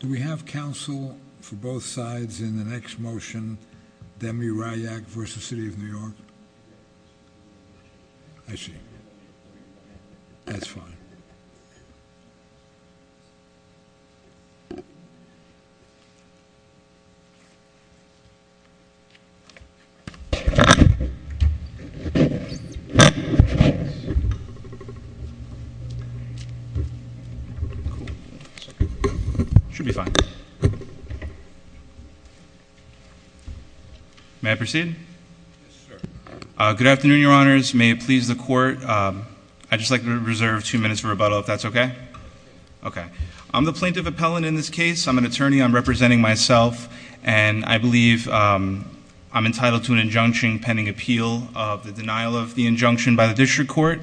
Do we have council for both sides in the next motion, Demirayak v. City of New York? I see. That's fine. Should be fine. May I proceed? Yes sir. Good afternoon, your honors. May it please the court. I'd just like to reserve two minutes for rebuttal if that's okay? Okay. I'm the plaintiff appellant in this case. I'm an attorney. I'm representing myself. And I believe I'm entitled to an injunction pending appeal of the denial of the injunction by the district court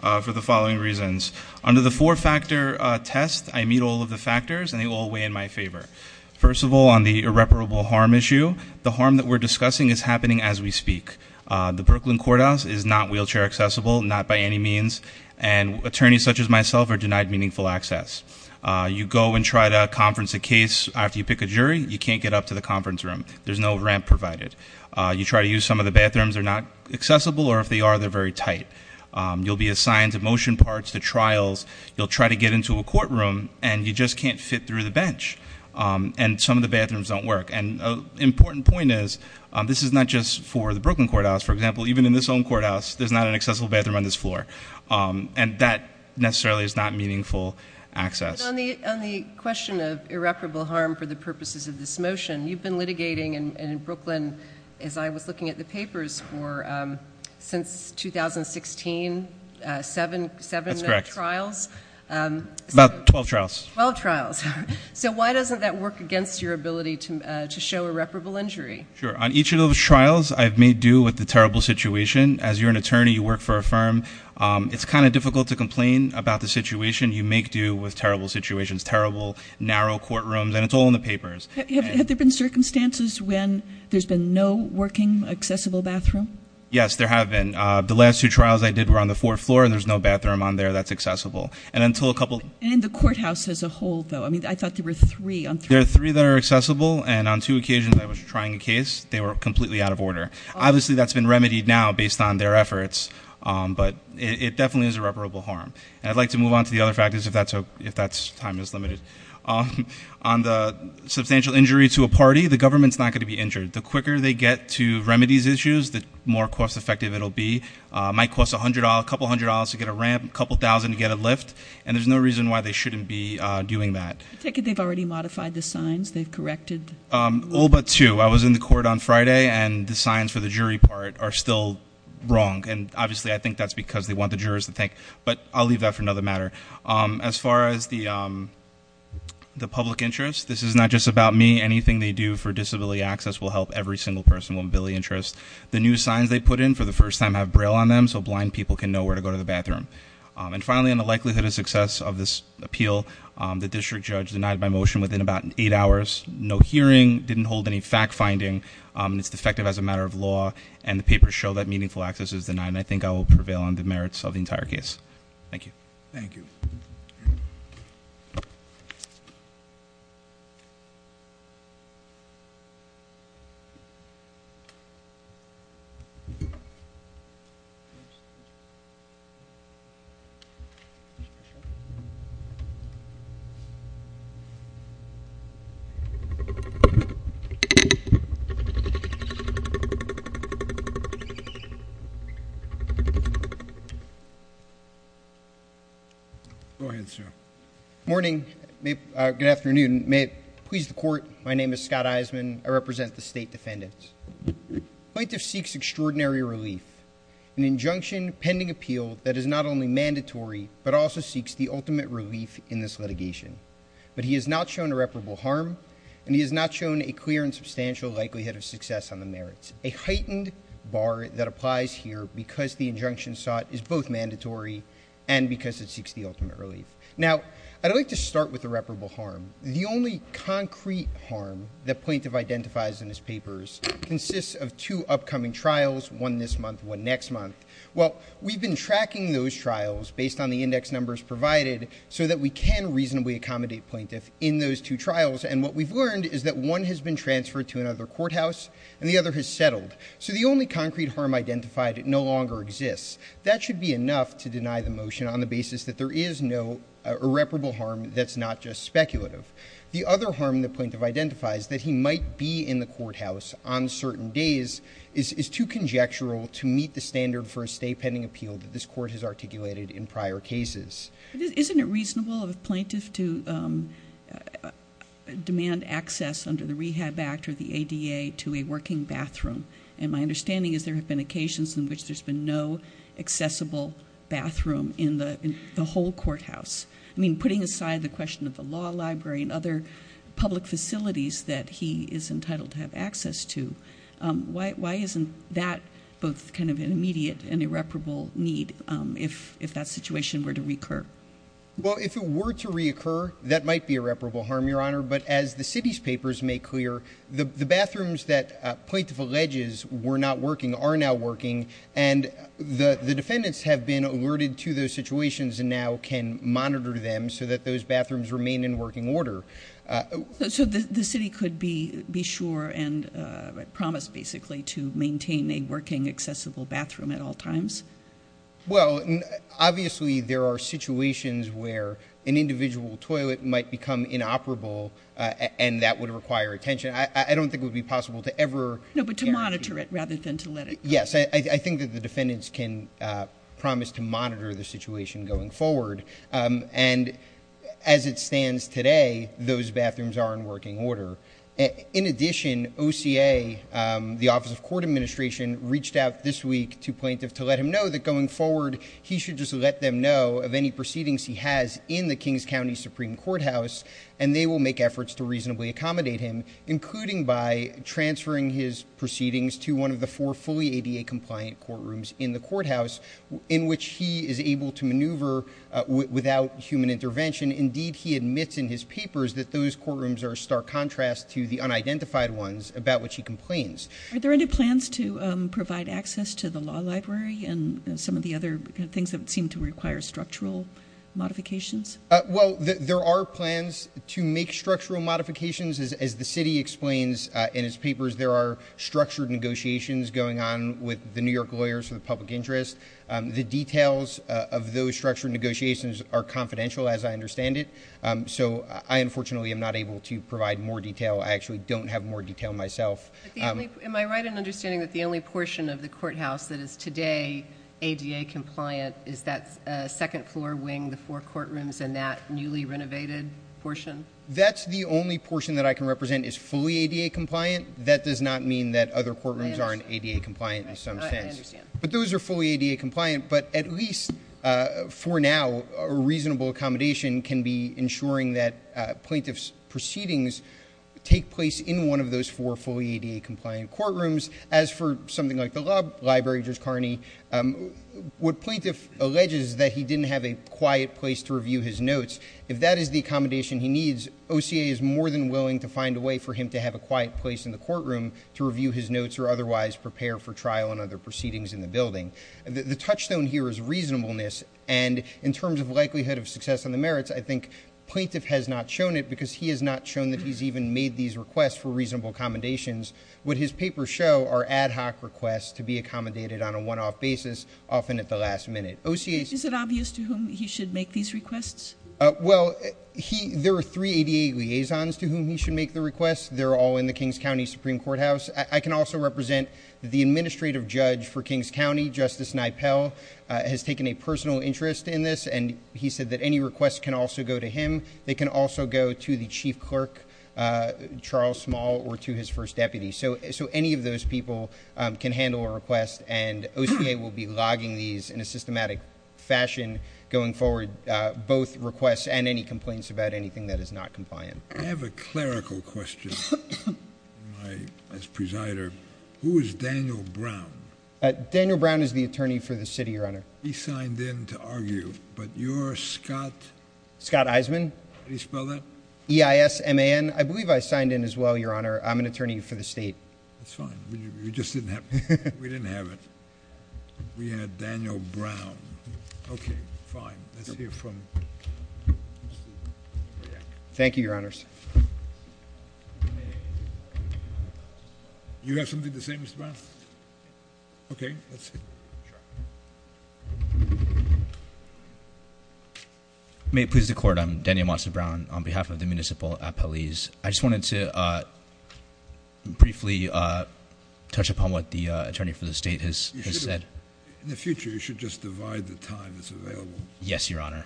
for the following reasons. Under the four factor test, I meet all of the factors and they all weigh in my favor. First of all, on the irreparable harm issue, the harm that we're discussing is happening as we speak. The Brooklyn courthouse is not wheelchair accessible, not by any means. And attorneys such as myself are denied meaningful access. You go and try to conference a case after you pick a jury, you can't get up to the conference room. There's no ramp provided. You try to use some of the bathrooms, they're not accessible. Or if they are, they're very tight. You'll be assigned to motion parts, to trials. You'll try to get into a courtroom and you just can't fit through the bench. And some of the bathrooms don't work. And an important point is, this is not just for the Brooklyn courthouse. For example, even in this own courthouse, there's not an accessible bathroom on this floor. And that necessarily is not meaningful access. But on the question of irreparable harm for the purposes of this motion, you've been litigating in Brooklyn, as I was looking at the papers, since 2016, seven trials? That's correct. About 12 trials. 12 trials. So why doesn't that work against your ability to show irreparable injury? Sure. On each of those trials, I've made due with the terrible situation. As you're an attorney, you work for a firm, it's kind of difficult to complain about the situation. You make due with terrible situations, terrible, narrow courtrooms. And it's all in the papers. Have there been circumstances when there's been no working, accessible bathroom? Yes, there have been. The last two trials I did were on the fourth floor, and there's no bathroom on there that's accessible. And until a couple- And in the courthouse as a whole, though? I mean, I thought there were three on three. There are three that are accessible, and on two occasions I was trying a case, they were completely out of order. Obviously, that's been remedied now based on their efforts. But it definitely is irreparable harm. And I'd like to move on to the other factors if that time is limited. On the substantial injury to a party, the government's not going to be injured. The quicker they get to remedies issues, the more cost-effective it'll be. It might cost a couple hundred dollars to get a ramp, a couple thousand to get a lift, and there's no reason why they shouldn't be doing that. I take it they've already modified the signs, they've corrected- All but two. I was in the court on Friday, and the signs for the jury part are still wrong. And obviously, I think that's because they want the jurors to think. But I'll leave that for another matter. As far as the public interest, this is not just about me. Anything they do for disability access will help every single person with a disability interest. The new signs they put in, for the first time, have Braille on them, so blind people can know where to go to the bathroom. And finally, on the likelihood of success of this appeal, the district judge denied my motion within about eight hours. No hearing, didn't hold any fact-finding, and it's defective as a matter of law. And the papers show that meaningful access is denied, and I think I will prevail on the merits of the entire case. Thank you. Thank you. Go ahead, sir. Good morning. Good afternoon. May it please the court, my name is Scott Eisenman. I represent the state defendants. Plaintiff seeks extraordinary relief. An injunction pending appeal that is not only mandatory, but also seeks the ultimate relief in this litigation. But he has not shown irreparable harm, and he has not shown a clear and substantial likelihood of success on the merits. A heightened bar that applies here because the injunction sought is both mandatory and because it seeks the ultimate relief. Now, I'd like to start with irreparable harm. The only concrete harm that plaintiff identifies in his papers consists of two upcoming trials, one this month, one next month. Well, we've been tracking those trials based on the index numbers provided so that we can reasonably accommodate plaintiff in those two trials. And what we've learned is that one has been transferred to another courthouse, and the other has settled. So the only concrete harm identified no longer exists. That should be enough to deny the motion on the basis that there is no irreparable harm that's not just speculative. The other harm the plaintiff identifies, that he might be in the courthouse on certain days, is too conjectural to meet the standard for a stay pending appeal that this court has articulated in prior cases. Isn't it reasonable of a plaintiff to demand access under the Rehab Act or the ADA to a working bathroom? And my understanding is there have been occasions in which there's been no accessible bathroom in the whole courthouse. I mean, putting aside the question of the law library and other public facilities that he is entitled to have access to, why isn't that both kind of an immediate and irreparable need if that situation were to recur? Well, if it were to reoccur, that might be irreparable harm, Your Honor. But as the city's papers make clear, the bathrooms that plaintiff alleges were not working are now working. And the defendants have been alerted to those situations and now can monitor them so that those bathrooms remain in working order. So the city could be sure and promise basically to maintain a working accessible bathroom at all times? Well, obviously there are situations where an individual toilet might become inoperable and that would require attention. I don't think it would be possible to ever- No, but to monitor it rather than to let it go. Yes, I think that the defendants can promise to monitor the situation going forward. And as it stands today, those bathrooms are in working order. In addition, OCA, the Office of Court Administration, reached out this week to plaintiff to let him know that going forward, he should just let them know of any proceedings he has in the Kings County Supreme Courthouse, and they will make efforts to reasonably accommodate him, including by transferring his proceedings to one of the four fully ADA-compliant courtrooms in the courthouse, in which he is able to maneuver without human intervention. Indeed, he admits in his papers that those courtrooms are a stark contrast to the unidentified ones about which he complains. Are there any plans to provide access to the law library and some of the other things that seem to require structural modifications? Well, there are plans to make structural modifications. As the city explains in its papers, there are structured negotiations going on with the New York lawyers for the public interest. The details of those structured negotiations are confidential, as I understand it. So I, unfortunately, am not able to provide more detail. I actually don't have more detail myself. Am I right in understanding that the only portion of the courthouse that is today ADA-compliant is that second-floor wing, the four courtrooms, and that newly renovated portion? That's the only portion that I can represent is fully ADA-compliant. That does not mean that other courtrooms aren't ADA-compliant in some sense. I understand. But those are fully ADA-compliant. But at least for now, a reasonable accommodation can be ensuring that plaintiff's proceedings take place in one of those four fully ADA-compliant courtrooms. As for something like the law library, Judge Carney, what plaintiff alleges is that he didn't have a quiet place to review his notes. If that is the accommodation he needs, OCA is more than willing to find a way for him to have a quiet place in the courtroom to review his notes or otherwise prepare for trial and other proceedings in the building. The touchstone here is reasonableness, and in terms of likelihood of success on the merits, I think plaintiff has not shown it because he has not shown that he's even made these requests for reasonable accommodations. What his papers show are ad hoc requests to be accommodated on a one-off basis, often at the last minute. Is it obvious to whom he should make these requests? Well, there are three ADA liaisons to whom he should make the requests. They're all in the Kings County Supreme Courthouse. I can also represent the administrative judge for Kings County, Justice Nippell, has taken a personal interest in this, and he said that any requests can also go to him. They can also go to the chief clerk, Charles Small, or to his first deputy. So any of those people can handle a request, and OCA will be logging these in a systematic fashion going forward, both requests and any complaints about anything that is not compliant. I have a clerical question as presider. Who is Daniel Brown? Daniel Brown is the attorney for the city, Your Honor. He signed in to argue, but you're Scott? Scott Eisman. How do you spell that? E-I-S-M-A-N. I believe I signed in as well, Your Honor. I'm an attorney for the state. That's fine. You just didn't have it. We didn't have it. We had Daniel Brown. Okay, fine. Let's hear from- Thank you, Your Honors. You have something to say, Mr. Brown? Okay, let's hear it. May it please the court. I'm Daniel Monson Brown on behalf of the Municipal Appellees. I just wanted to briefly touch upon what the attorney for the state has said. In the future, you should just divide the time that's available. Yes, Your Honor.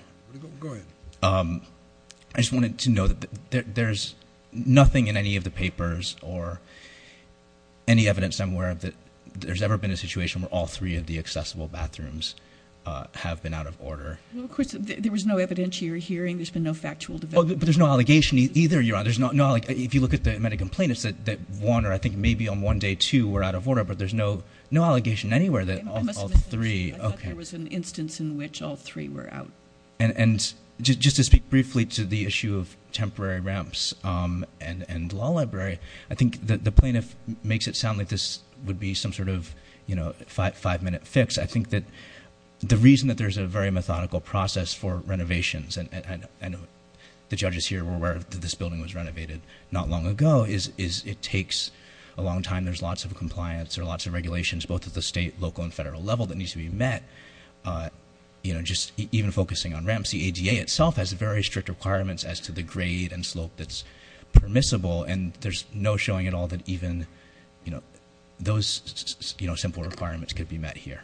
Go ahead. I just wanted to note that there's nothing in any of the papers or any evidence I'm aware of that there's ever been a situation where all three of the accessible bathrooms have been out of order. Of course, there was no evidentiary hearing. There's been no factual development. But there's no allegation either, Your Honor. If you look at the medical plaintiffs that one or I think maybe on one day two were out of order, but there's no allegation anywhere that all three- I thought there was an instance in which all three were out. And just to speak briefly to the issue of temporary ramps and the law library, I think the plaintiff makes it sound like this would be some sort of five-minute fix. I think that the reason that there's a very methodical process for renovations, and the judges here were aware that this building was renovated not long ago, is it takes a long time. There's lots of compliance. There are lots of regulations, both at the state, local, and federal level that needs to be met. Just even focusing on ramps, the ADA itself has very strict requirements as to the grade and slope that's permissible. And there's no showing at all that even those simple requirements could be met here.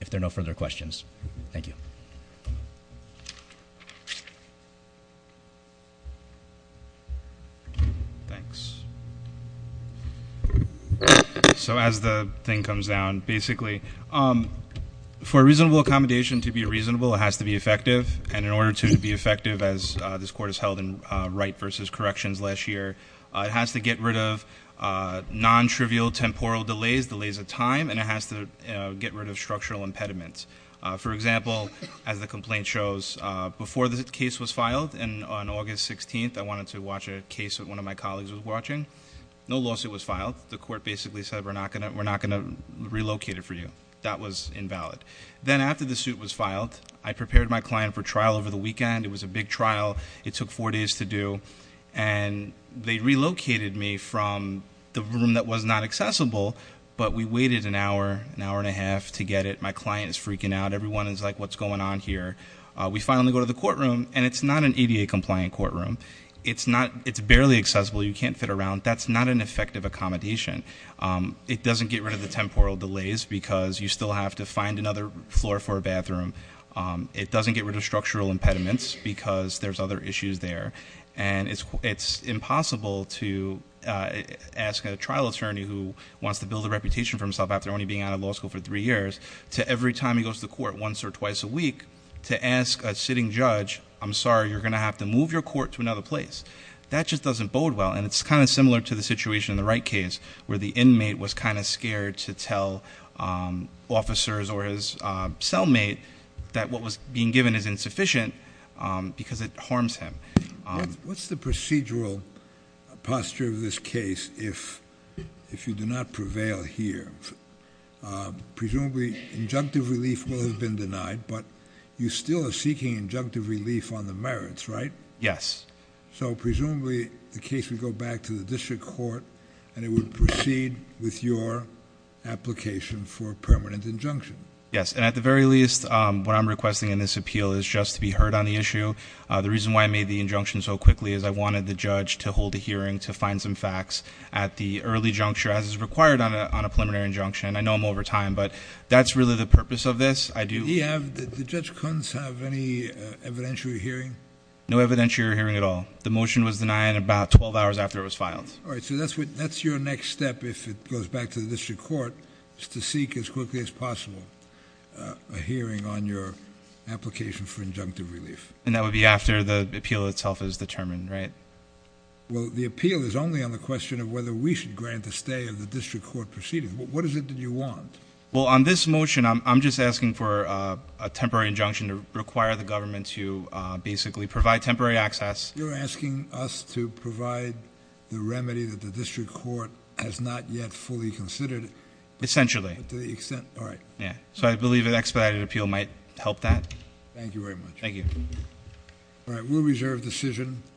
If there are no further questions, thank you. Thanks. So as the thing comes down, basically, for reasonable accommodation to be reasonable, it has to be effective. And in order to be effective, as this court has held in Wright versus Corrections last year, it has to get rid of non-trivial temporal delays, delays of time, and it has to get rid of structural impediments. For example, as the complaint shows, before the case was filed on August 16th, I wanted to watch a case that one of my colleagues was watching. No lawsuit was filed. The court basically said, we're not going to relocate it for you. That was invalid. Then after the suit was filed, I prepared my client for trial over the weekend. It was a big trial. It took four days to do. And they relocated me from the room that was not accessible, but we waited an hour, an hour and a half to get it. My client is freaking out. Everyone is like, what's going on here? We finally go to the courtroom, and it's not an ADA-compliant courtroom. It's barely accessible. You can't fit around. That's not an effective accommodation. It doesn't get rid of the temporal delays, because you still have to find another floor for a bathroom. It doesn't get rid of structural impediments, because there's other issues there. And it's impossible to ask a trial attorney who wants to build a reputation for himself after only being out of law school for three years, to every time he goes to court once or twice a week, to ask a sitting judge, I'm sorry, you're going to have to move your court to another place. That just doesn't bode well. And it's kind of similar to the situation in the Wright case, where the inmate was kind of scared to tell officers or his cellmate that what was being given is insufficient, because it harms him. What's the procedural posture of this case if you do not prevail here? Presumably, injunctive relief will have been denied, but you still are seeking injunctive relief on the merits, right? Yes. So presumably, the case would go back to the district court, and it would proceed with your application for a permanent injunction. Yes, and at the very least, what I'm requesting in this appeal is just to be heard on the issue. The reason why I made the injunction so quickly is I wanted the judge to hold a hearing to find some facts at the early juncture, as is required on a preliminary injunction. I know I'm over time, but that's really the purpose of this. Did Judge Kuntz have any evidentiary hearing? No evidentiary hearing at all. The motion was denied about 12 hours after it was filed. All right, so that's your next step, if it goes back to the district court, is to seek as quickly as possible a hearing on your application for injunctive relief. And that would be after the appeal itself is determined, right? Well, the appeal is only on the question of whether we should grant the stay of the district court proceedings. What is it that you want? Well, on this motion, I'm just asking for a temporary injunction to require the government to basically provide temporary access. You're asking us to provide the remedy that the district court has not yet fully considered? Essentially. All right. So I believe an expedited appeal might help that. Thank you very much. Thank you. All right, we'll reserve decision.